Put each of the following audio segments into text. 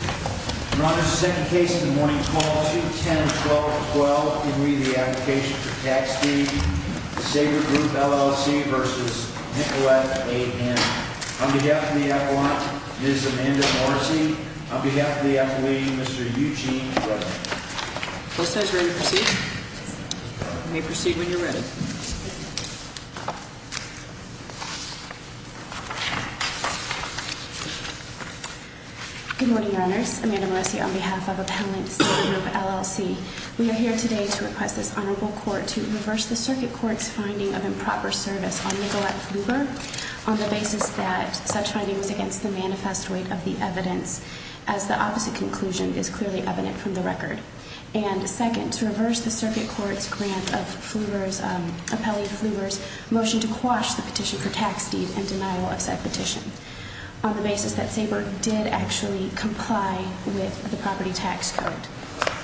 On behalf of the appellant, Ms. Amanda Morrissey, on behalf of the appellee, Mr. Eugene Rebnik. Closet is ready to proceed. You may proceed when you're ready. Good morning, Your Honors. Amanda Morrissey on behalf of Appellant's Group, LLC. We are here today to request this honorable court to reverse the circuit court's finding of improper service on Nicolette Fluber, on the basis that such finding was against the manifest weight of the evidence, as the opposite conclusion is clearly evident from the record. And second, to reverse the circuit court's grant of Fluber's, appellee Fluber's, motion to quash the petition for tax deed and denial of said petition, on the basis that Sabre did actually comply with the property tax code,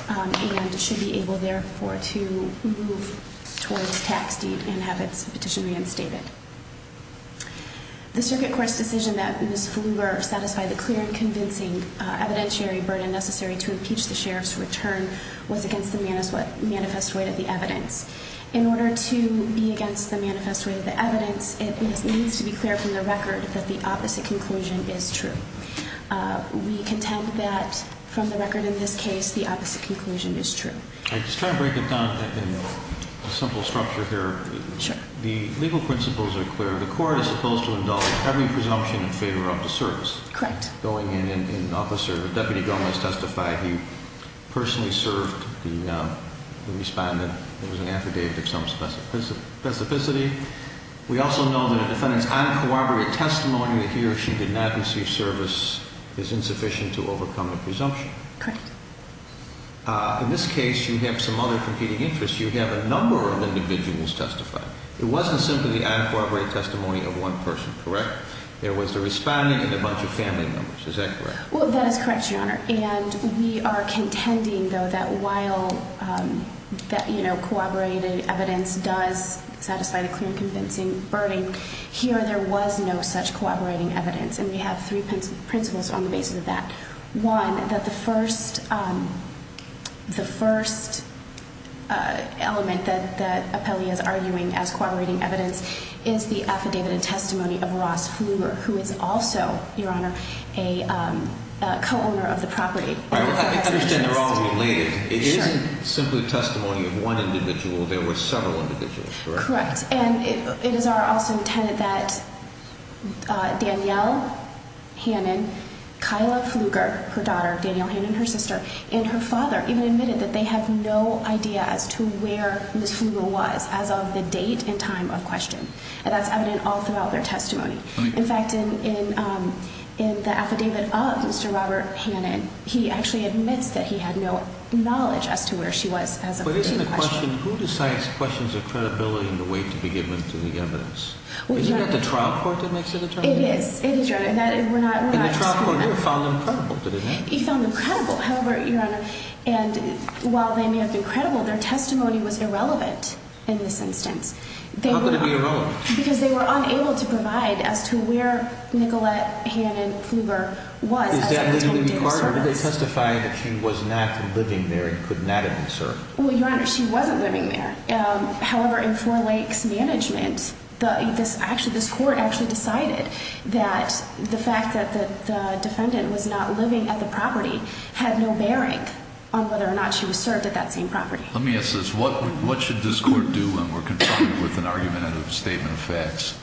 and should be able, therefore, to move towards tax deed and have its petition reinstated. The circuit court's decision that Ms. Fluber satisfied the clear and convincing evidentiary burden necessary to impeach the sheriff's return was against the manifest weight of the evidence. In order to be against the manifest weight of the evidence, it needs to be clear from the record that the opposite conclusion is true. We contend that from the record in this case, the opposite conclusion is true. I just try to break it down in a simple structure here. Sure. The legal principles are clear. The court is supposed to indulge every presumption in favor of the service. Correct. Going in and officer, Deputy Gomez testified, he personally served the respondent. It was an affidavit of some specificity. We also know that a defendant's uncooperative testimony that he or she did not receive service is insufficient to overcome a presumption. Correct. In this case, you have some other competing interests. You have a number of individuals testifying. It wasn't simply the uncooperative testimony of one person. Correct? There was the respondent and a bunch of family members. Is that correct? Well, that is correct, Your Honor. And we are contending, though, that while that, you know, corroborated evidence does satisfy the clear and convincing burden, here there was no such corroborating evidence. And we have three principles on the basis of that. One, that the first element that Appellee is arguing as corroborating evidence is the affidavit and testimony of Ross Flumer, who is also, Your Honor, a co-owner of the property. I understand they're all related. It isn't simply testimony of one individual. There were several individuals. Correct. And it is also intended that Danielle Hannon, Kyla Fluger, her daughter, Danielle Hannon, her sister, and her father even admitted that they have no idea as to where Ms. Fluger was as of the date and time of question. And that's evident all throughout their testimony. In fact, in the affidavit of Mr. Robert Hannon, he actually admits that he had no knowledge as to where she was as of the time of question. Who decides questions of credibility in the way to be given to the evidence? Is it not the trial court that makes the determination? It is. It is, Your Honor. And the trial court here found them credible, did it not? He found them credible. However, Your Honor, and while they may have been credible, their testimony was irrelevant in this instance. How could it be irrelevant? Because they were unable to provide as to where Nicolette Hannon Fluger was as of the time of date of service. Did they testify that she was not living there and could not have been served? Well, Your Honor, she wasn't living there. However, in Four Lakes Management, this court actually decided that the fact that the defendant was not living at the property had no bearing on whether or not she was served at that same property. Let me ask this. What should this court do when we're confronted with an argument out of a statement of facts?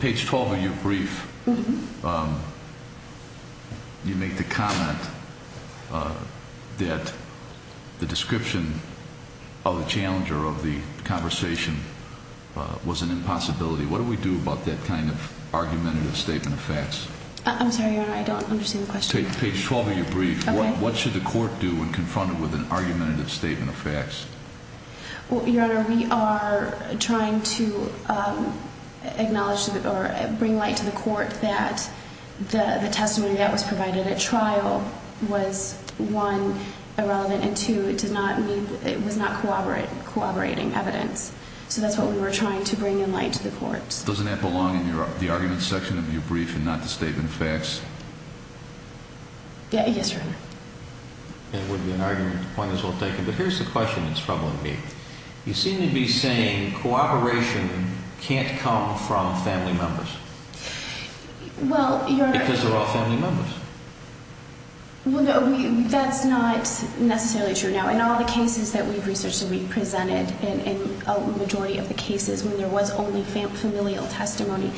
Page 12 of your brief, you make the comment that the description of the challenger of the conversation was an impossibility. What do we do about that kind of argumentative statement of facts? I'm sorry, Your Honor. I don't understand the question. Page 12 of your brief, what should the court do when confronted with an argumentative statement of facts? Well, Your Honor, we are trying to acknowledge or bring light to the court that the testimony that was provided at trial was, one, irrelevant, and two, it was not corroborating evidence. So that's what we were trying to bring in light to the court. Doesn't that belong in the argument section of your brief and not the statement of facts? Yes, Your Honor. It would be an argument that might as well be taken. But here's the question that's troubling me. You seem to be saying cooperation can't come from family members. Well, Your Honor. Because they're all family members. Well, no, that's not necessarily true. You know, in all the cases that we've researched and we've presented, in a majority of the cases when there was only familial testimony,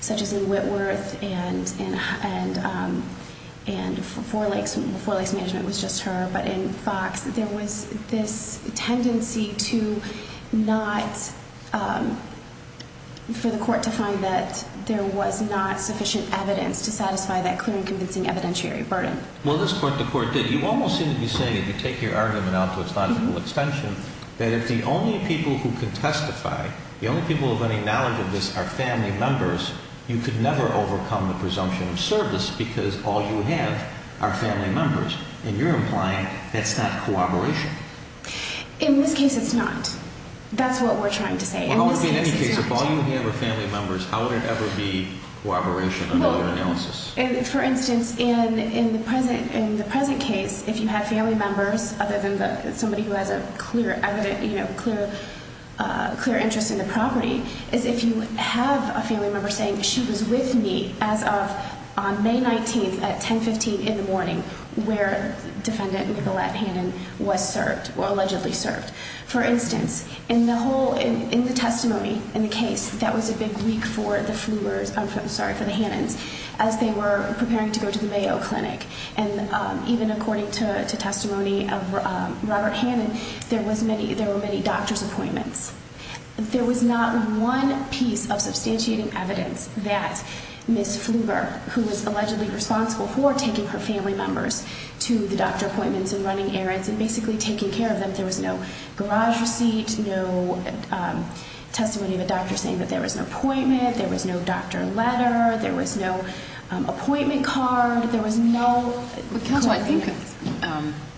such as in Whitworth and Four Lakes Management was just her, but in Fox, there was this tendency to not, for the court to find that there was not sufficient evidence to satisfy that clear and convincing evidentiary burden. Well, at this point the court did. You almost seem to be saying, if you take your argument out to its logical extension, that if the only people who can testify, the only people of any knowledge of this are family members, you could never overcome the presumption of service because all you have are family members. And you're implying that's not cooperation. In this case, it's not. That's what we're trying to say. Well, how would it be in any case? If all you have are family members, how would it ever be cooperation under your analysis? For instance, in the present case, if you have family members, other than somebody who has a clear interest in the property, is if you have a family member saying, she was with me as of May 19th at 10.15 in the morning where Defendant Nicolette Hannon was served, or allegedly served. For instance, in the testimony in the case, that was a big week for the Hannons as they were preparing to go to the Mayo Clinic. And even according to testimony of Robert Hannon, there were many doctor's appointments. There was not one piece of substantiating evidence that Ms. Pfluger, who was allegedly responsible for taking her family members to the doctor appointments and running errands and basically taking care of them, there was no garage receipt, no testimony of a doctor saying that there was an appointment, there was no doctor letter, there was no appointment card, there was no...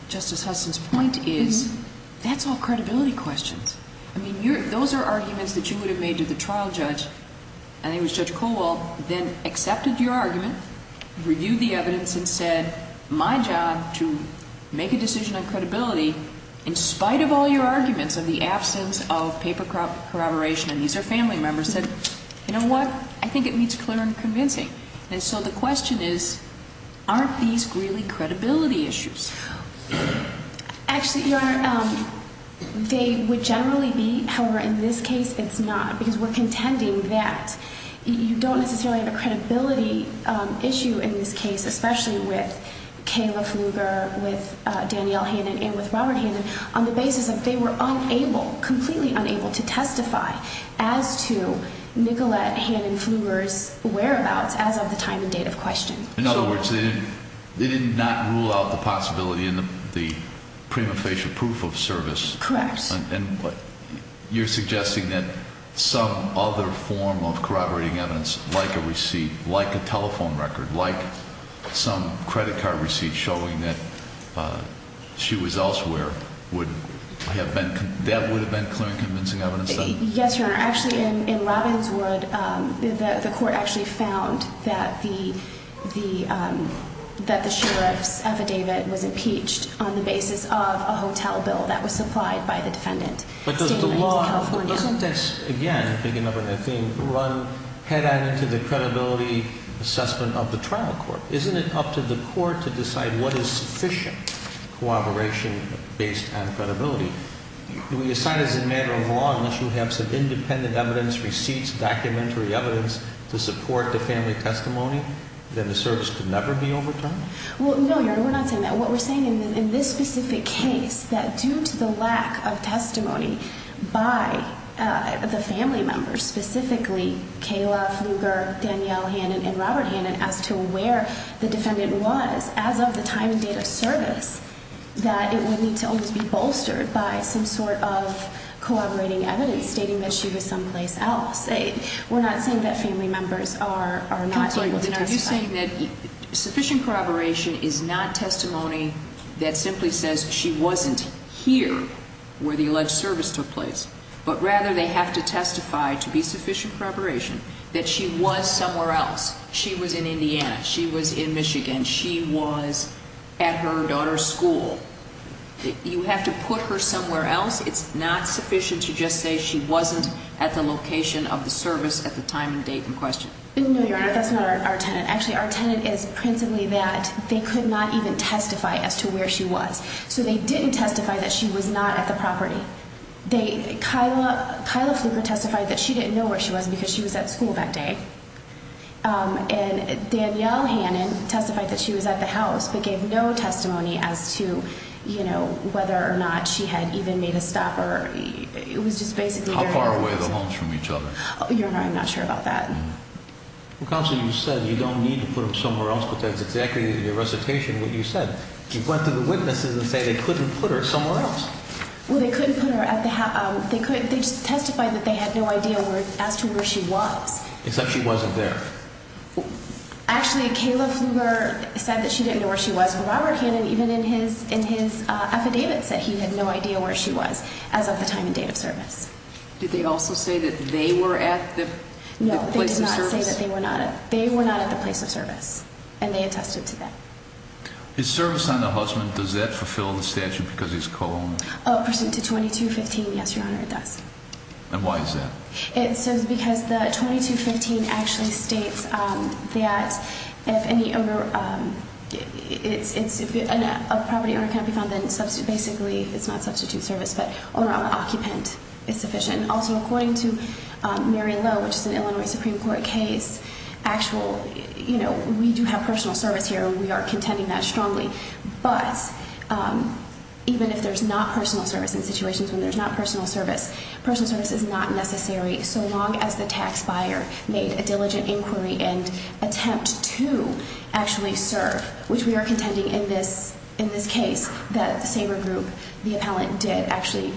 Justice Hudson's point is, that's all credibility questions. I mean, those are arguments that you would have made to the trial judge, and it was Judge Colwell, then accepted your argument, reviewed the evidence and said, my job to make a decision on credibility, in spite of all your arguments of the absence of paper corroboration, and these are family members, said, you know what, I think it meets clear and convincing. And so the question is, aren't these really credibility issues? Actually, Your Honor, they would generally be. However, in this case, it's not, because we're contending that you don't necessarily have a credibility issue in this case, especially with Kayla Pfluger, with Danielle Hannon and with Robert Hannon, on the basis that they were unable, completely unable to testify as to Nicolette Hannon Pfluger's whereabouts as of the time and date of question. In other words, they did not rule out the possibility in the prima facie proof of service. Correct. And you're suggesting that some other form of corroborating evidence, like a receipt, like a telephone record, like some credit card receipt showing that she was elsewhere, that would have been clear and convincing evidence, then? Yes, Your Honor. Actually, in Robbinswood, the court actually found that the sheriff's affidavit was impeached on the basis of a hotel bill that was supplied by the defendant. But doesn't the law, again, picking up on that theme, run head on into the credibility assessment of the trial court? Isn't it up to the court to decide what is sufficient corroboration based on credibility? Do we assign as a matter of law, unless you have some independent evidence, receipts, documentary evidence to support the family testimony, that the service could never be overturned? Well, no, Your Honor, we're not saying that. What we're saying in this specific case, that due to the lack of testimony by the family members, specifically Kayla Fluger, Danielle Hannan, and Robert Hannan, as to where the defendant was as of the time and date of service, that it would need to always be bolstered by some sort of corroborating evidence stating that she was someplace else. We're not saying that family members are not able to testify. We're saying that sufficient corroboration is not testimony that simply says she wasn't here where the alleged service took place. But rather, they have to testify to be sufficient corroboration that she was somewhere else. She was in Indiana. She was in Michigan. She was at her daughter's school. You have to put her somewhere else. It's not sufficient to just say she wasn't at the location of the service at the time and date in question. No, Your Honor, that's not our tenant. Actually, our tenant is principally that they could not even testify as to where she was. So they didn't testify that she was not at the property. Kayla Fluger testified that she didn't know where she was because she was at school that day. And Danielle Hannan testified that she was at the house but gave no testimony as to, you know, whether or not she had even made a stop or – it was just basically – How far away are the homes from each other? Your Honor, I'm not sure about that. Counsel, you said you don't need to put them somewhere else, but that's exactly in your recitation what you said. You went to the witnesses and said they couldn't put her somewhere else. Well, they couldn't put her at the – they testified that they had no idea as to where she was. Except she wasn't there. Actually, Kayla Fluger said that she didn't know where she was. Robert Hannan, even in his affidavit, said he had no idea where she was as of the time and date of service. Did they also say that they were at the place of service? No, they did not say that they were not at – they were not at the place of service, and they attested to that. Is service on the husband – does that fulfill the statute because he's co-owner? Oh, pursuant to 2215, yes, Your Honor, it does. And why is that? It's because the 2215 actually states that if any owner – if a property owner cannot be found, then basically it's not substitute service, but owner-occupant is sufficient. Also, according to Mary Lowe, which is an Illinois Supreme Court case, actual – you know, we do have personal service here. We are contending that strongly. But even if there's not personal service in situations when there's not personal service, personal service is not necessary so long as the tax buyer made a diligent inquiry and attempt to actually serve, which we are contending in this case that the Sabre Group, the appellant, did actually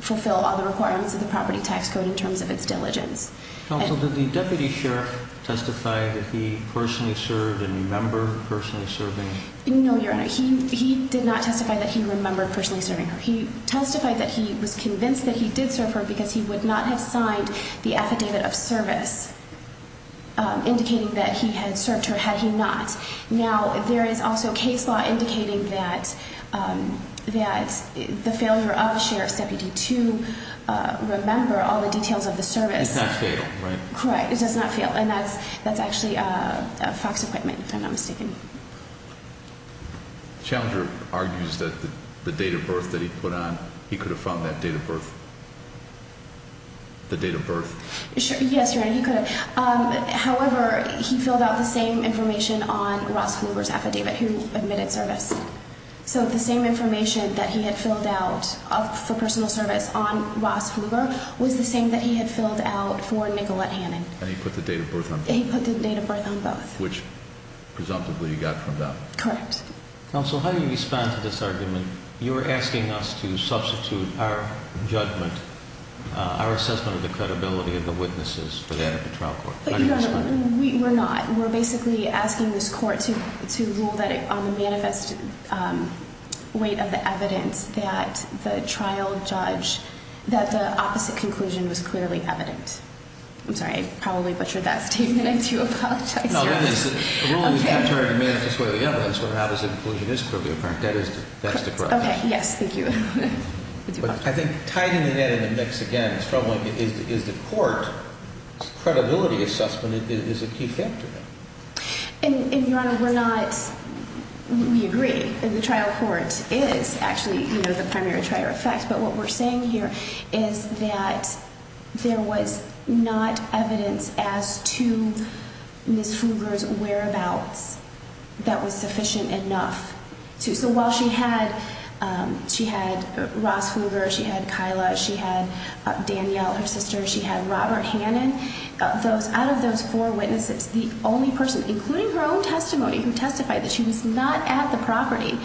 fulfill all the requirements of the property tax code in terms of its diligence. Counsel, did the deputy sheriff testify that he personally served and remember personally serving? No, Your Honor. He did not testify that he remembered personally serving her. He testified that he was convinced that he did serve her because he would not have signed the affidavit of service indicating that he had served her had he not. Now, there is also case law indicating that the failure of the sheriff's deputy to remember all the details of the service – Does not fail, right? Correct. It does not fail. And that's actually FOX equipment, if I'm not mistaken. Challenger argues that the date of birth that he put on, he could have found that date of birth. The date of birth. Yes, Your Honor, he could have. However, he filled out the same information on Ross Huber's affidavit, who admitted service. So the same information that he had filled out for personal service on Ross Huber was the same that he had filled out for Nicolette Hannon. And he put the date of birth on both. He put the date of birth on both. Which, presumptively, he got from them. Correct. Counsel, how do you respond to this argument? You're asking us to substitute our judgment, our assessment of the credibility of the witnesses for that of the trial court. But, Your Honor, we're not. We're basically asking this court to rule that on the manifest weight of the evidence that the trial judge, that the opposite conclusion was clearly evident. I'm sorry. I probably butchered that statement. I do apologize. No, that is. The ruling is contrary to the manifest weight of the evidence where the opposite conclusion is clearly apparent. That is the correct answer. Okay. Yes. Thank you. I think tying the net in the mix again is troubling. Is the court's credibility assessment a key factor? And, Your Honor, we're not. We agree. The trial court is actually the primary trial effect. But what we're saying here is that there was not evidence as to Ms. Pfluger's whereabouts that was sufficient enough. So while she had Ross Pfluger, she had Kyla, she had Danielle, her sister, she had Robert Hannon, out of those four witnesses, the only person, including her own testimony, who testified that she was not at the property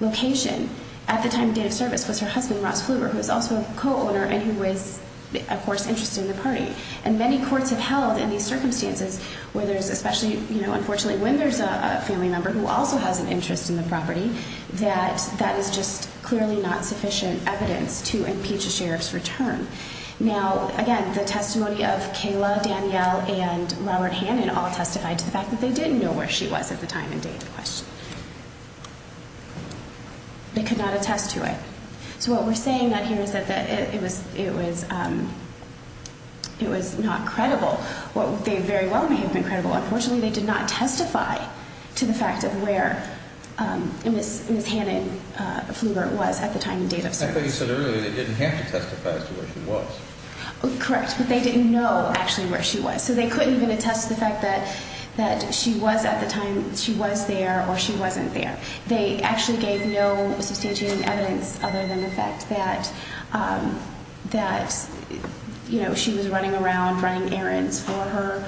location at the time of date of service, was her husband, Ross Pfluger, who was also a co-owner and who was, of course, interested in the party. And many courts have held in these circumstances where there's especially, you know, unfortunately, when there's a family member who also has an interest in the property, that that is just clearly not sufficient evidence to impeach a sheriff's return. Now, again, the testimony of Kyla, Danielle, and Robert Hannon all testified to the fact that they didn't know where she was at the time and date of question. They could not attest to it. So what we're saying out here is that it was not credible. They very well may have been credible. Unfortunately, they did not testify to the fact of where Ms. Hannon Pfluger was at the time and date of service. I thought you said earlier they didn't have to testify as to where she was. Correct. But they didn't know actually where she was. So they couldn't even attest to the fact that she was at the time she was there or she wasn't there. They actually gave no substantiating evidence other than the fact that, you know, she was running around, running errands for her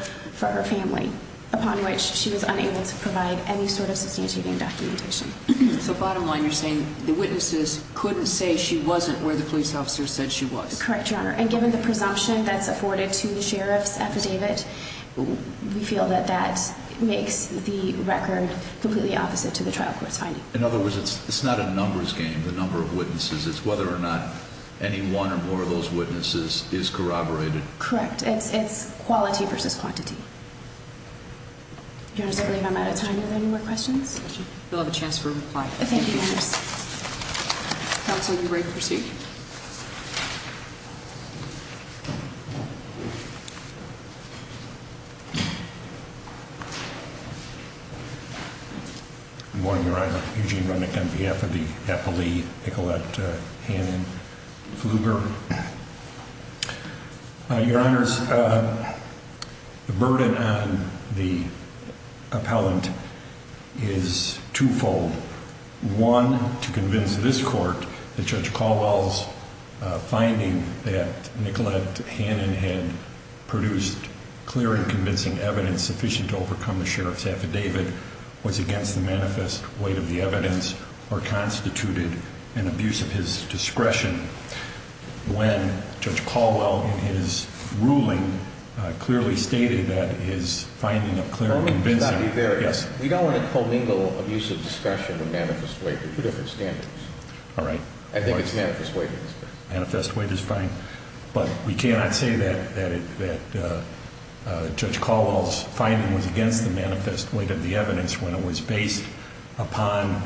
family, upon which she was unable to provide any sort of substantiating documentation. So bottom line, you're saying the witnesses couldn't say she wasn't where the police officer said she was. Correct, Your Honor. And given the presumption that's afforded to the sheriff's affidavit, we feel that that makes the record completely opposite to the trial court's finding. In other words, it's not a numbers game, the number of witnesses. It's whether or not any one or more of those witnesses is corroborated. Correct. It's quality versus quantity. Your Honor, I believe I'm out of time. Are there any more questions? You'll have a chance for a reply. Thank you, Your Honor. Counsel, you may proceed. Thank you, Your Honor. The burden on the appellant is twofold. One, to convince this court that Judge Caldwell's finding that Nicolette Hannon had produced clear and convincing evidence sufficient to overcome the sheriff's affidavit was against the manifest weight of the evidence, or constituted an abuse of his discretion when Judge Caldwell in his ruling clearly stated that his finding of clear and convincing... Let me stop you there. Yes. We don't want to co-mingle abuse of discretion or manifest weight. They're two different standards. All right. I think it's manifest weight that's better. Manifest weight is fine. But we cannot say that Judge Caldwell's finding was against the manifest weight of the evidence when it was based upon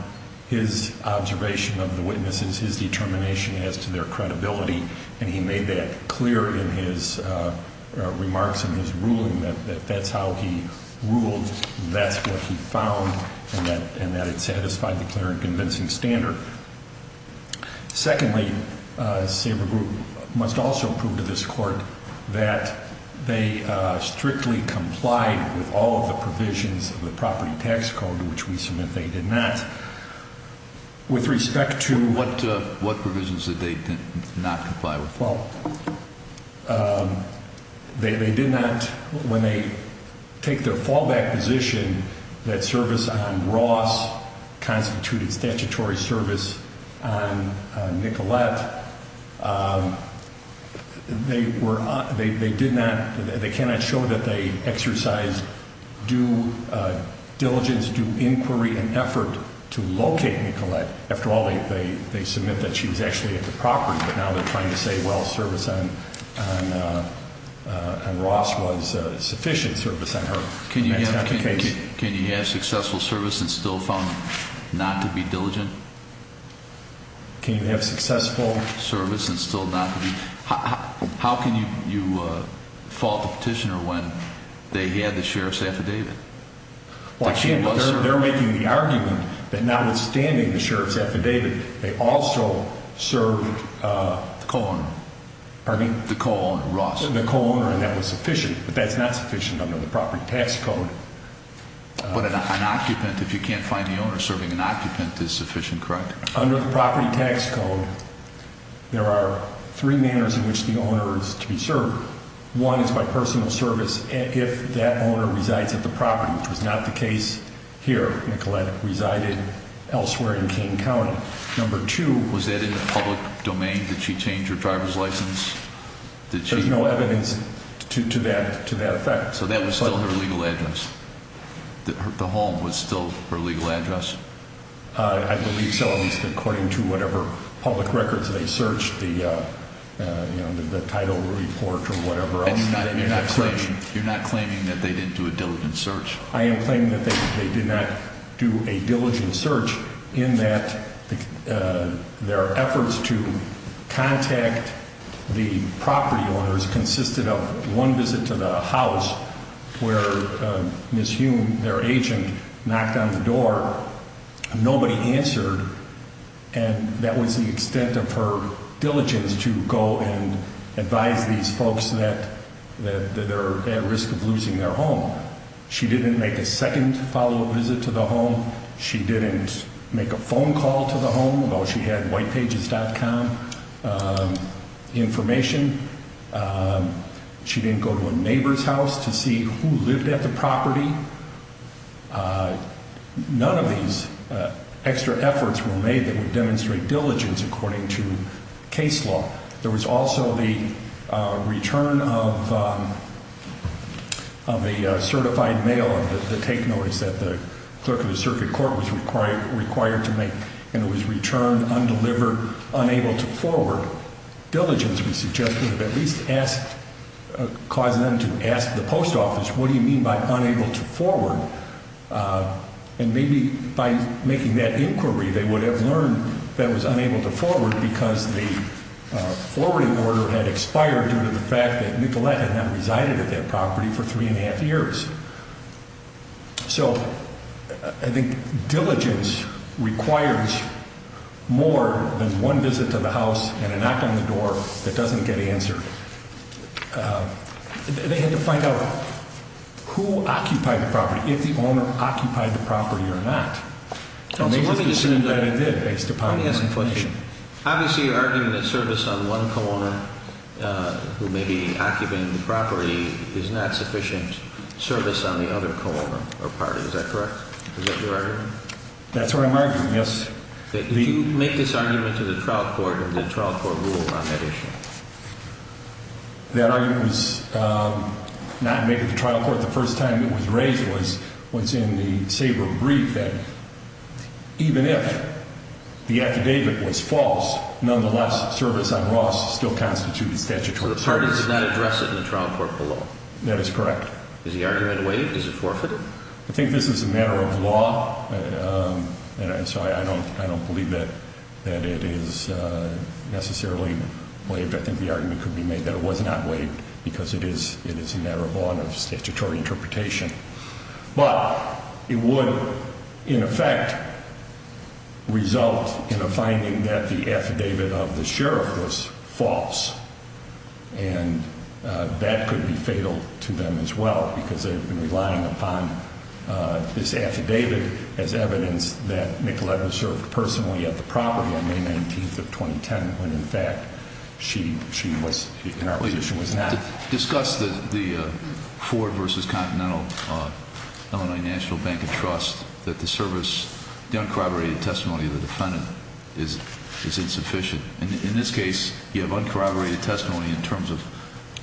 his observation of the witnesses, his determination as to their credibility, and he made that clear in his remarks in his ruling, that that's how he ruled, that's what he found, and that it satisfied the clear and convincing standard. Secondly, Sabre Group must also prove to this court that they strictly complied with all the provisions of the property tax code, which we submit they did not. With respect to... What provisions did they not comply with? Well, they did not, when they take their fallback position, that service on Ross constituted statutory service on Nicolette, they did not... They cannot show that they exercised due diligence, due inquiry, and effort to locate Nicolette. After all, they submit that she was actually at the property, but now they're trying to say, well, service on Ross was sufficient service on her, and that's not the case. Can you have successful service and still found not to be diligent? Can you have successful service and still not to be... How can you fault the petitioner when they had the sheriff's affidavit? Well, they're making the argument that notwithstanding the sheriff's affidavit, they also served the co-owner. Pardon me? The co-owner, Ross. The co-owner, and that was sufficient, but that's not sufficient under the property tax code. But an occupant, if you can't find the owner serving an occupant, is sufficient, correct? Under the property tax code, there are three manners in which the owner is to be served. One is by personal service, if that owner resides at the property, which was not the case here. Nicolette resided elsewhere in King County. Number two... Was that in the public domain? Did she change her driver's license? Did she... There's no evidence to that effect. So that was still her legal address? The home was still her legal address? I believe so, at least according to whatever public records they searched, the title report or whatever else. And you're not claiming that they didn't do a diligent search? I am claiming that they did not do a diligent search in that their efforts to contact the where Ms. Hume, their agent, knocked on the door, nobody answered, and that was the extent of her diligence to go and advise these folks that they're at risk of losing their home. She didn't make a second follow-up visit to the home. She didn't make a phone call to the home, although she had whitepages.com information. She didn't go to a neighbor's house to see who lived at the property. None of these extra efforts were made that would demonstrate diligence according to case law. There was also the return of a certified mail of the take notice that the clerk of the circuit court was required to make, and it was returned undelivered, unable to forward. Diligence, we suggest, would have at least caused them to ask the post office, what do you mean by unable to forward? And maybe by making that inquiry, they would have learned that it was unable to forward because the forwarding order had expired due to the fact that Nicolette had not resided at that property for three and a half years. So, I think diligence requires more than one visit to the house and a knock on the door that doesn't get answered. They had to find out who occupied the property, if the owner occupied the property or not. And they just assumed that it did, based upon information. Obviously, you're arguing that service on one co-owner who may be occupying the property is not sufficient service on the other co-owner or party. Is that correct? Is that your argument? That's what I'm arguing, yes. Did you make this argument to the trial court, or did the trial court rule on that issue? That argument was not made to the trial court. The first time it was raised was in the Sabre brief, that even if the affidavit was false, nonetheless, service on Ross still constitutes statutory service. So, the parties did not address it in the trial court below? That is correct. Is the argument waived? Is it forfeited? I think this is a matter of law, and so I don't believe that it is necessarily waived. I think the argument could be made that it was not waived because it is a matter of law and of statutory interpretation. But it would, in effect, result in a finding that the affidavit of the sheriff was false. And that could be fatal to them as well, because they've been relying upon this affidavit as evidence that Nicolette was served personally at the property on May 19th of 2010, when, in fact, she was in our position was not. Discuss the Ford v. Continental Illinois National Bank of Trust, that the service, the uncorroborated testimony of the defendant is insufficient. In this case, you have uncorroborated testimony in terms of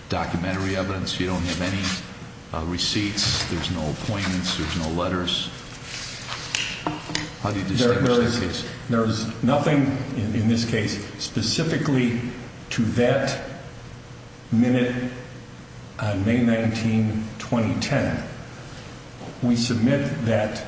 documentary evidence. You don't have any receipts. There's no appointments. There's no letters. How do you distinguish this case? There is nothing in this case specifically to that minute on May 19, 2010. We submit that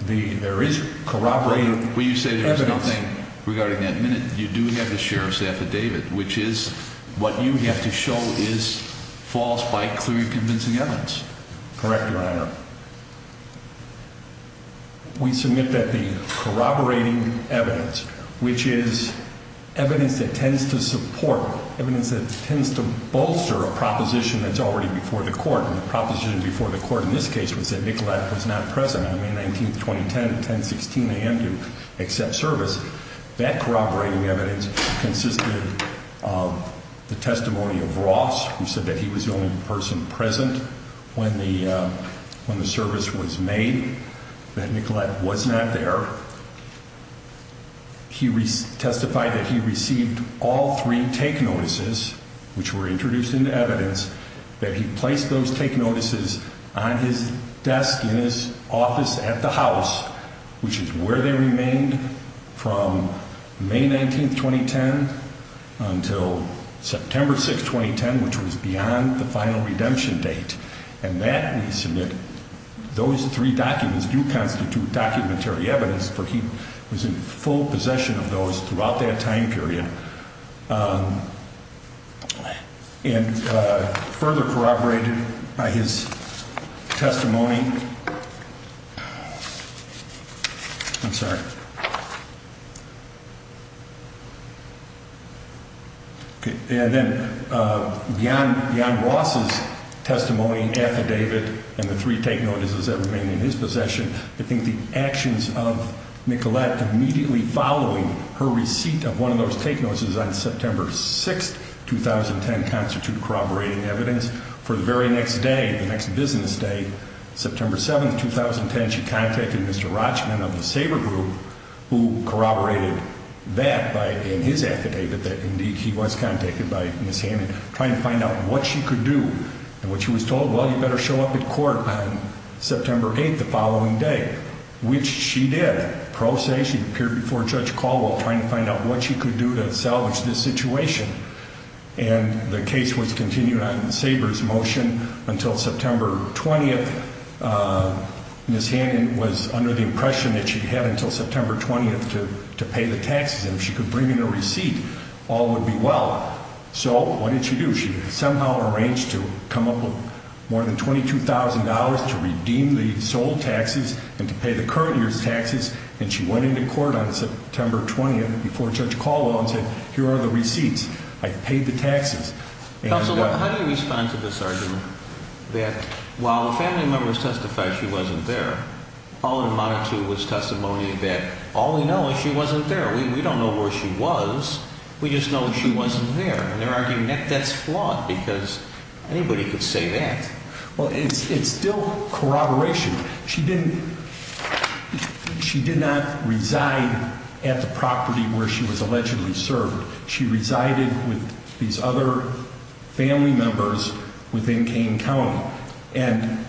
there is corroborated evidence. You say there's nothing regarding that minute. You do have the sheriff's affidavit, which is what you have to show is false by clearly convincing evidence. Correct, Your Honor. We submit that the corroborating evidence, which is evidence that tends to support, evidence that tends to bolster a proposition that's already before the court. And the proposition before the court in this case was that Nicolette was not present on the day of the incident. That corroborating evidence consisted of the testimony of Ross, who said that he was the only person present when the service was made, that Nicolette was not there. He testified that he received all three take notices, which were introduced into evidence, that he placed those take notices on his desk, in his office, at the house, which is where they remained from May 19, 2010 until September 6, 2010, which was beyond the final redemption date. And that we submit, those three documents do constitute documentary evidence for he was in full possession of those throughout that time period. And further corroborated by his testimony. I'm sorry. And then beyond Ross's testimony, affidavit, and the three take notices that remained in his possession, I think the actions of Nicolette immediately following her receipt of one of those take notices on September 6, 2010, constitute corroborating evidence for the very next day, the next business day, September 6, 2010. September 7, 2010, she contacted Mr. Rochman of the Sabre Group, who corroborated that by, in his affidavit, that indeed he was contacted by Ms. Hammond, trying to find out what she could do. And what she was told, well, you better show up at court on September 8, the following day, which she did. Pro se, she appeared before Judge Caldwell, trying to find out what she could do to salvage this situation. And the case was continued on Sabre's motion until September 20. Ms. Hammond was under the impression that she had until September 20 to pay the taxes, and if she could bring in a receipt, all would be well. So what did she do? She somehow arranged to come up with more than $22,000 to redeem the sold taxes and to pay the current year's taxes. And she went into court on September 20 before Judge Caldwell and said, here are the receipts. I've paid the taxes. Counsel, how do you respond to this argument, that while the family members testified she wasn't there, all it amounted to was testimony that all we know is she wasn't there. We don't know where she was. We just know she wasn't there. And they're arguing that that's flawed, because anybody could say that. Well, it's still corroboration. She didn't, she did not reside at the property where she was allegedly served. She resided with these other family members within Kane County. And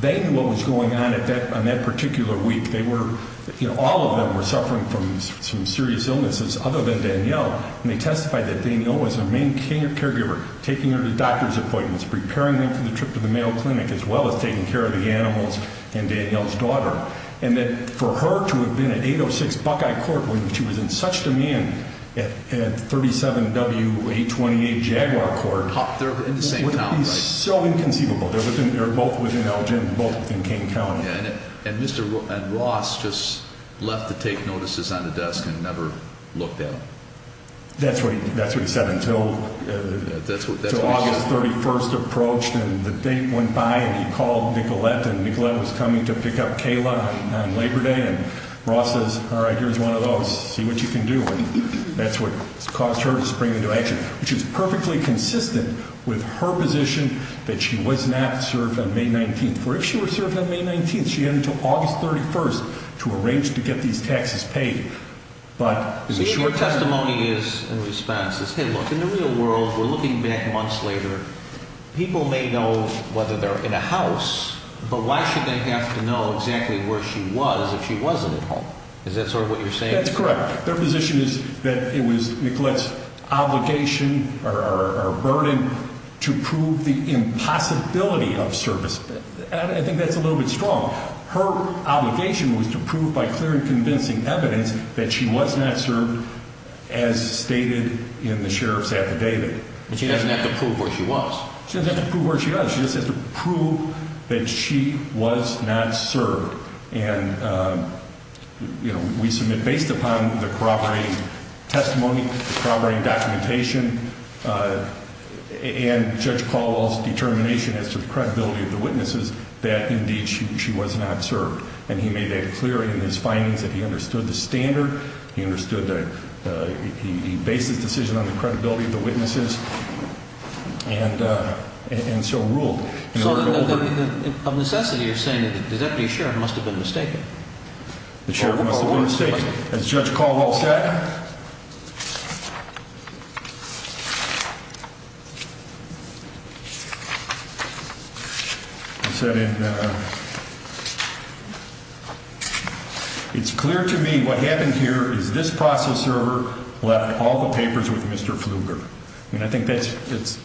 then what was going on on that particular week, they were, you know, all of them were suffering from some serious illnesses other than Danielle. And they testified that Danielle was their main caregiver, taking her to doctor's appointments, preparing them for the trip to the male clinic, as well as taking care of the animals and Danielle's daughter. And that for her to have been at 806 Buckeye Court when she was in such demand at 37W828 Jaguar Court. They're in the same town, right? It would be so inconceivable. They're both within Elgin, both within Kane County. Yeah, and Mr. Ross just left to take notices on the desk and never looked at them. That's what he said until August 31st approached and the date went by and he called Nicolette and Nicolette was coming to pick up Kayla on Labor Day. And Ross says, all right, here's one of those. See what you can do. And that's what caused her to spring into action, which is perfectly consistent with her position that she was not served on May 19th. For if she were served on May 19th, she had until August 31st to arrange to get these taxes paid. But the short testimony is in response is, hey, look, in the real world, we're looking back months later, people may know whether they're in a house, but why should they have to know exactly where she was if she wasn't at home? Is that sort of what you're saying? That's correct. Their position is that it was Nicolette's obligation or burden to prove the impossibility of service. And I think that's a little bit strong. Her obligation was to prove by clear and convincing evidence that she was not served as stated in the sheriff's affidavit. But she doesn't have to prove where she was. She doesn't have to prove where she was. She just has to prove that she was not served. And we submit based upon the corroborating testimony, the corroborating documentation and Judge Caldwell's determination as to the credibility of the witnesses that indeed she was not served. And he made that clear in his findings that he understood the standard. He understood that he based his decision on the credibility of the witnesses and so ruled. So of necessity, you're saying that the deputy sheriff must have been mistaken? The sheriff must have been mistaken. As Judge Caldwell said, It's clear to me what happened here is this process server left all the papers with Mr. Pfluger. And I think that's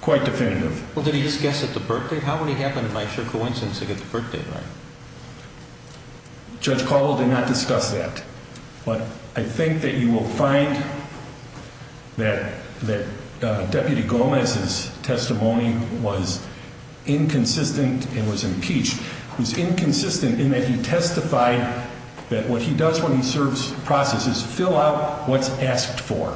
quite definitive. Well, did he just guess at the birthdate? How would he happen, by sure coincidence, to get the birthdate right? Judge Caldwell did not discuss that. But I think that you will find that Deputy Gomez's testimony was inconsistent and was impeached. It was inconsistent in that he testified that what he does when he serves process is fill out what's asked for.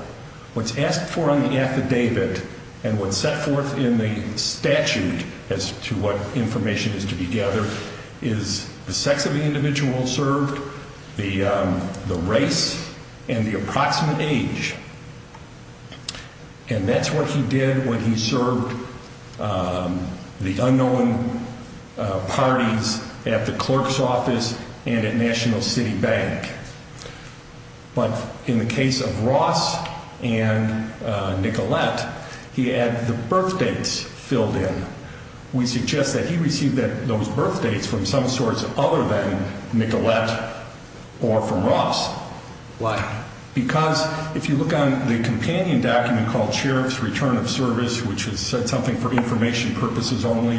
What's asked for on the affidavit and what's set forth in the statute as to what information is to be gathered is the sex of the individual served, the race and the approximate age. And that's what he did when he served the unknown parties at the clerk's office and at National City Bank. But in the case of Ross and Nicolette, he had the birthdates filled in. We suggest that he received those birthdates from some source other than Nicolette or from Ross. Why? Because if you look on the companion document called Sheriff's Return of Service, which has said something for information purposes only,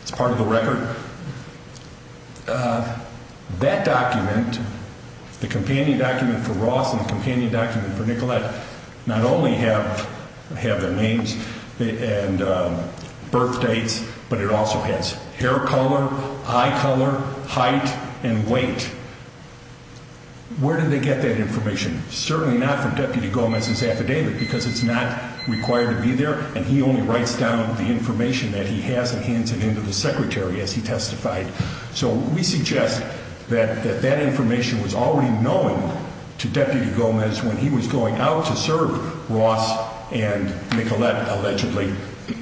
it's part of the record. That document, the companion document for Ross and companion document for Nicolette, not only have their names and birthdates, but it also has hair color, eye color, height and weight. Where did they get that information? Certainly not from Deputy Gomez's affidavit because it's not required to be there. And he only writes down the information that he has and hands it in to the secretary as he testified. So we suggest that that information was already known to Deputy Gomez when he was going out to serve Ross and Nicolette, allegedly,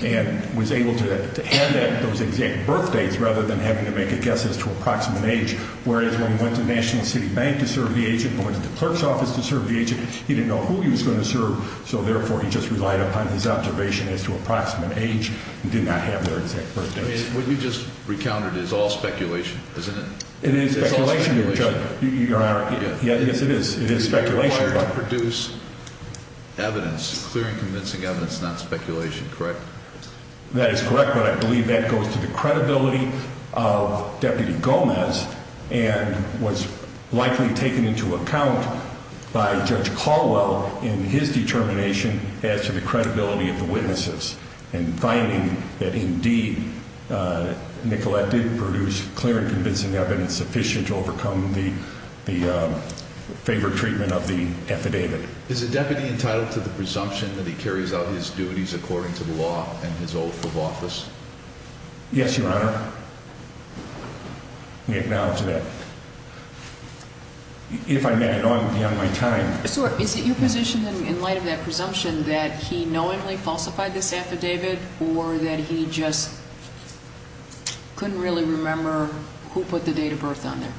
and was able to have those exact birthdates rather than having to make a guess as to approximate age. Whereas when he went to National City Bank to serve the agent, went to the clerk's office to serve the agent, he didn't know who he was going to serve. So therefore, he just relied upon his observation as to approximate age and did not have their exact birthdates. What you just recounted is all speculation, isn't it? It is speculation, Your Honor. Yes, it is. It is speculation. It's required to produce evidence, clear and convincing evidence, not speculation, correct? That is correct, but I believe that goes to the credibility of Deputy Gomez and was likely taken into account by Judge Caldwell in his determination as to the credibility of the Nicolette did produce clear and convincing evidence sufficient to overcome the favor treatment of the affidavit. Is the deputy entitled to the presumption that he carries out his duties according to the law and his oath of office? Yes, Your Honor. We acknowledge that. If I may, I know I'm beyond my time. So is it your position in light of that presumption that he knowingly falsified this affidavit or that he just couldn't really remember who put the date of birth on there?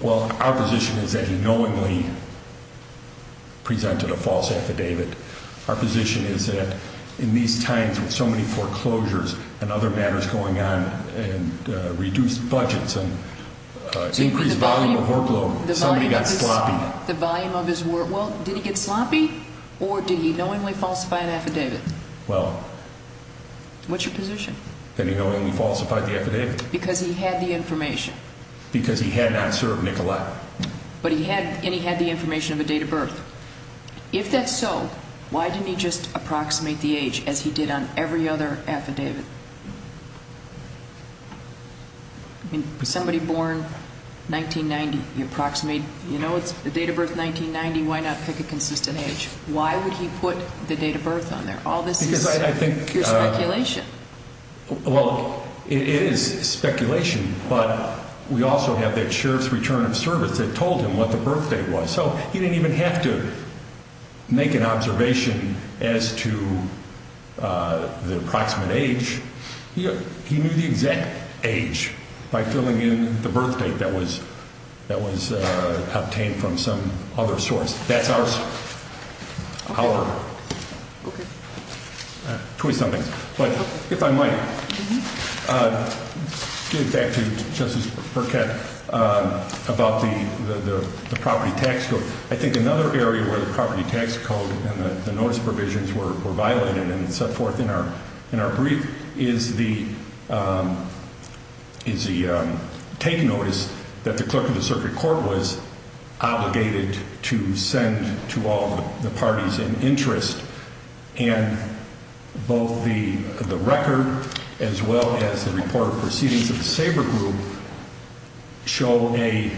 Well, our position is that he knowingly presented a false affidavit. Our position is that in these times with so many foreclosures and other matters going on and reduced budgets and increased volume of workload, somebody got sloppy. The volume of his work? Well, did he get sloppy or did he knowingly falsify an affidavit? Well, what's your position? That he knowingly falsified the affidavit. Because he had the information. Because he had not served Nicolette. But he had and he had the information of a date of birth. If that's so, why didn't he just approximate the age as he did on every other affidavit? I mean, somebody born 1990, you approximate, you know, it's the date of birth 1990. Why not pick a consistent age? Why would he put the date of birth on there? All this is your speculation. Well, it is speculation. But we also have that sheriff's return of service that told him what the birthday was. So he didn't even have to make an observation as to the approximate age. He knew the exact age by filling in the birth date that was obtained from some other source. That's our twist on things. If I might get back to Justice Burkett about the property tax code. I think another area where the property tax code and the notice provisions were violated and set forth in our brief is the take notice that the clerk of the circuit court was The record as well as the report of proceedings of the Sabre Group show a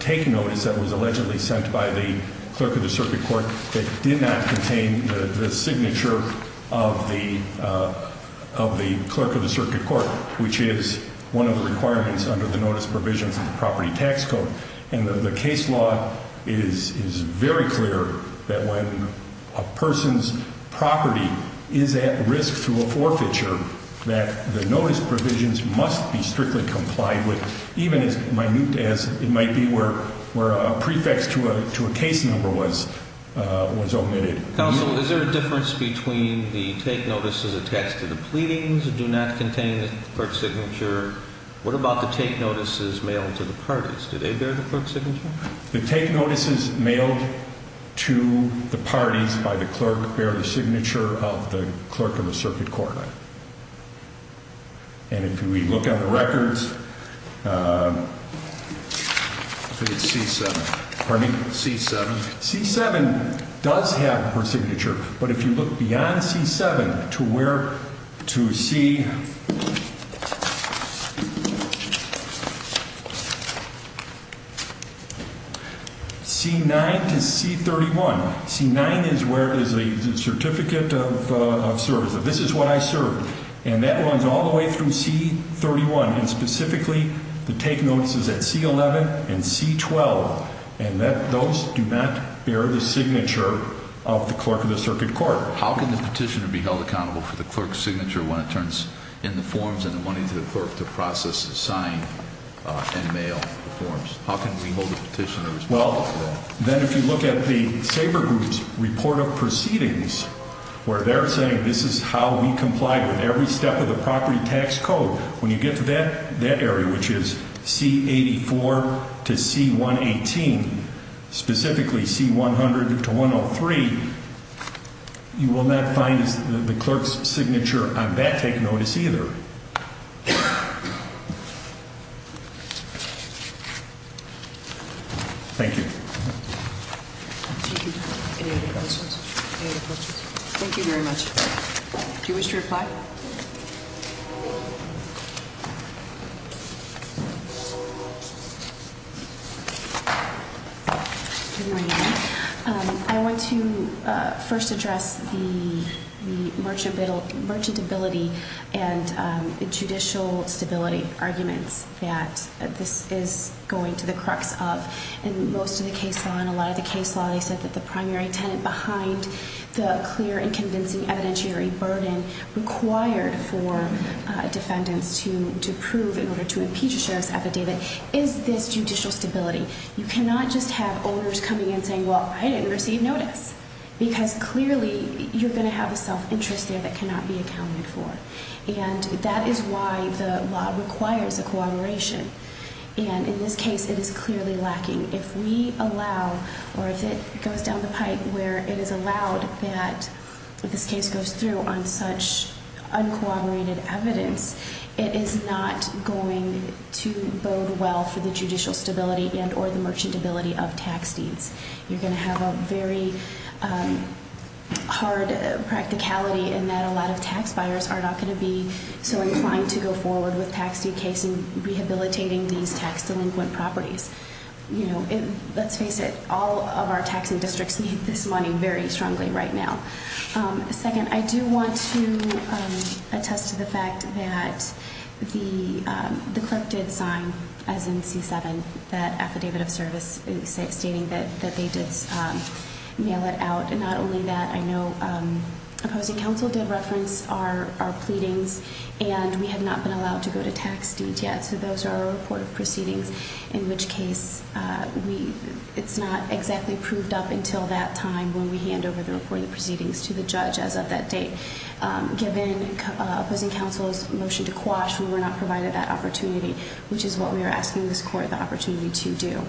take notice that was allegedly sent by the clerk of the circuit court that did not contain the signature of the clerk of the circuit court, which is one of the requirements under the notice provisions of the property tax code. And the case law is very clear that when a person's property is at risk through a forfeiture that the notice provisions must be strictly complied with, even as minute as it might be where a prefix to a case number was omitted. Counsel, is there a difference between the take notices attached to the pleadings do not contain the clerk's signature? What about the take notices mailed to the parties? Did they bear the clerk's signature? The take notices mailed to the parties by the clerk bear the signature of the clerk of the circuit court. And if we look at the records, C7 does have her signature. But if you look beyond C7 to where to see C9 to C31, C9 is where it is a certificate of service. This is what I served. And that runs all the way through C31. And specifically, the take notices at C11 and C12. And that those do not bear the signature of the clerk of the circuit court. How can the petitioner be held accountable for the clerk's signature when it turns in the forms and the money to the clerk to process the sign and mail forms? How can we hold the petitioners accountable? Then if you look at the Sabre Group's report of proceedings, where they're saying this is how we comply with every step of the property tax code, when you get to that area, which is C84 to C118, specifically C100 to 103, you will not find the clerk's signature on that take notice either. Thank you. Thank you very much. Do you wish to reply? I want to first address the merchantability and judicial stability arguments. This is going to the crux of most of the case law and a lot of the case law. They said that the primary tenant behind the clear and convincing evidentiary burden required for defendants to prove in order to impeach a sheriff's affidavit is this judicial stability. You cannot just have owners coming in saying, well, I didn't receive notice. Because clearly, you're going to have a self-interest there that cannot be accounted for. And that is why the law requires a cooperation. And in this case, it is clearly lacking. If we allow, or if it goes down the pipe where it is allowed that this case goes through on such uncooperated evidence, it is not going to bode well for the judicial stability and or the merchantability of tax deeds. You're going to have a very hard practicality in that a lot of tax buyers are not going to be so inclined to go forward with tax deed cases and rehabilitating these tax delinquent properties. Let's face it, all of our taxing districts need this money very strongly right now. Second, I do want to attest to the fact that the clerk did sign, as in C7, that affidavit of service, stating that they did mail it out. And not only that, I know opposing counsel did reference our pleadings, and we have not been allowed to go to tax deeds yet. So those are our report of proceedings, in which case it's not exactly proved up until that time when we hand over the report of proceedings to the judge as of that date. Given opposing counsel's motion to quash, we were not provided that opportunity, which is what we are asking this court the opportunity to do.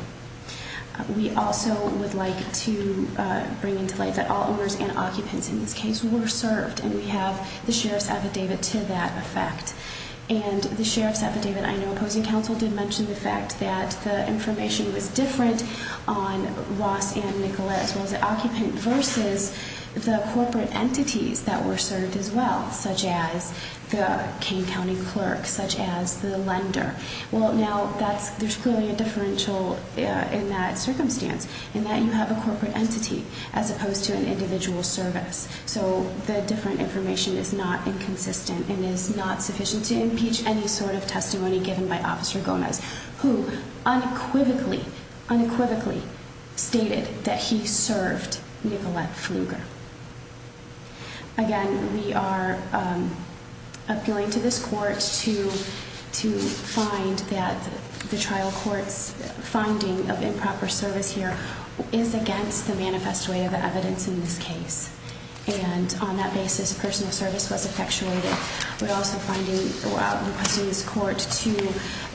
We also would like to bring into light that all owners and occupants in this case were served, and we have the sheriff's affidavit to that effect. And the sheriff's affidavit, I know opposing counsel did mention the fact that the information was different on Ross and Nicolette as well as the occupant versus the corporate entities that were served as well, such as the Kane County clerk, such as the lender. Well, now there's clearly a differential in that circumstance, in that you have a corporate entity as opposed to an individual service. So the different information is not inconsistent and is not sufficient to impeach any sort of testimony given by Officer Gomez, who unequivocally, unequivocally stated that he served Nicolette Pfluger. Again, we are appealing to this court to find that the trial court's finding of improper service here is against the manifest way of evidence in this case. And on that basis, personal service was effectuated. We're also finding, requesting this court to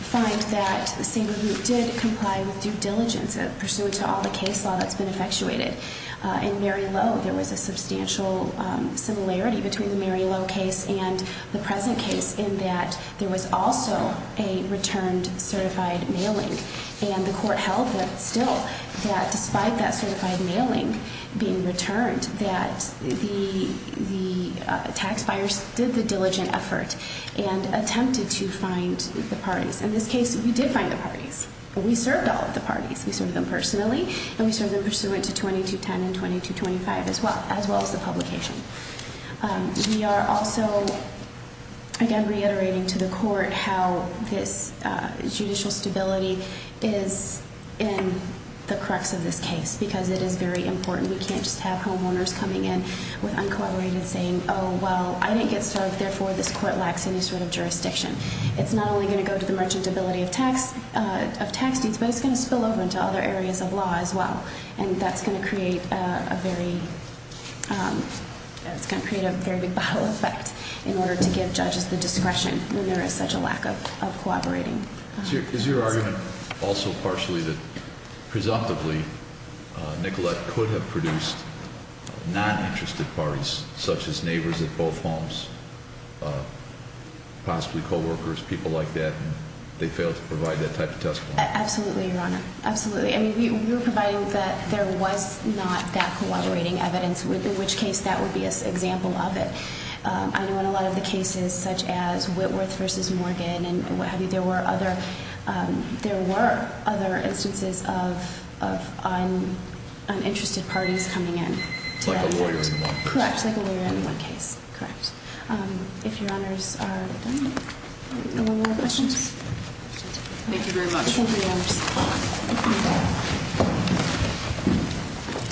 find that the same group did comply with due diligence pursuant to all the case law that's been effectuated. In Mary Lowe, there was a substantial similarity between the Mary Lowe case and the present case in that there was also a returned certified mailing. And the court held that still, that despite that certified mailing being returned, that the taxpayers did the diligent effort and attempted to find the parties. In this case, we did find the parties. We served all of the parties. We served them personally and we served them pursuant to 2210 and 2225 as well as the publication. We are also, again, reiterating to the court how this judicial stability is in the crux of this case because it is very important. We can't just have homeowners coming in with uncooperated saying, oh, well, I didn't get served, therefore this court lacks any sort of jurisdiction. It's not only going to go to the merchantability of tax, of tax deeds, but it's going to spill over into other areas of law as well. And that's going to create a very, that's going to create a very big bottle effect in order to give judges the discretion when there is such a lack of cooperating. Is your argument also partially that presumptively Nicolette could have produced non-interested parties such as neighbors at both homes, possibly coworkers, people like that, and they failed to provide that type of testimony? Absolutely, Your Honor. Absolutely. I mean, we were providing that there was not that cooperating evidence, in which case that would be an example of it. I know in a lot of the cases such as Whitworth v. Morgan and what have you, there were other instances of uninterested parties coming in. Like a lawyer in one case. Correct. Like a lawyer in one case. Correct. If Your Honors are done, are there any more questions? Thank you very much. Thank you, Your Honors.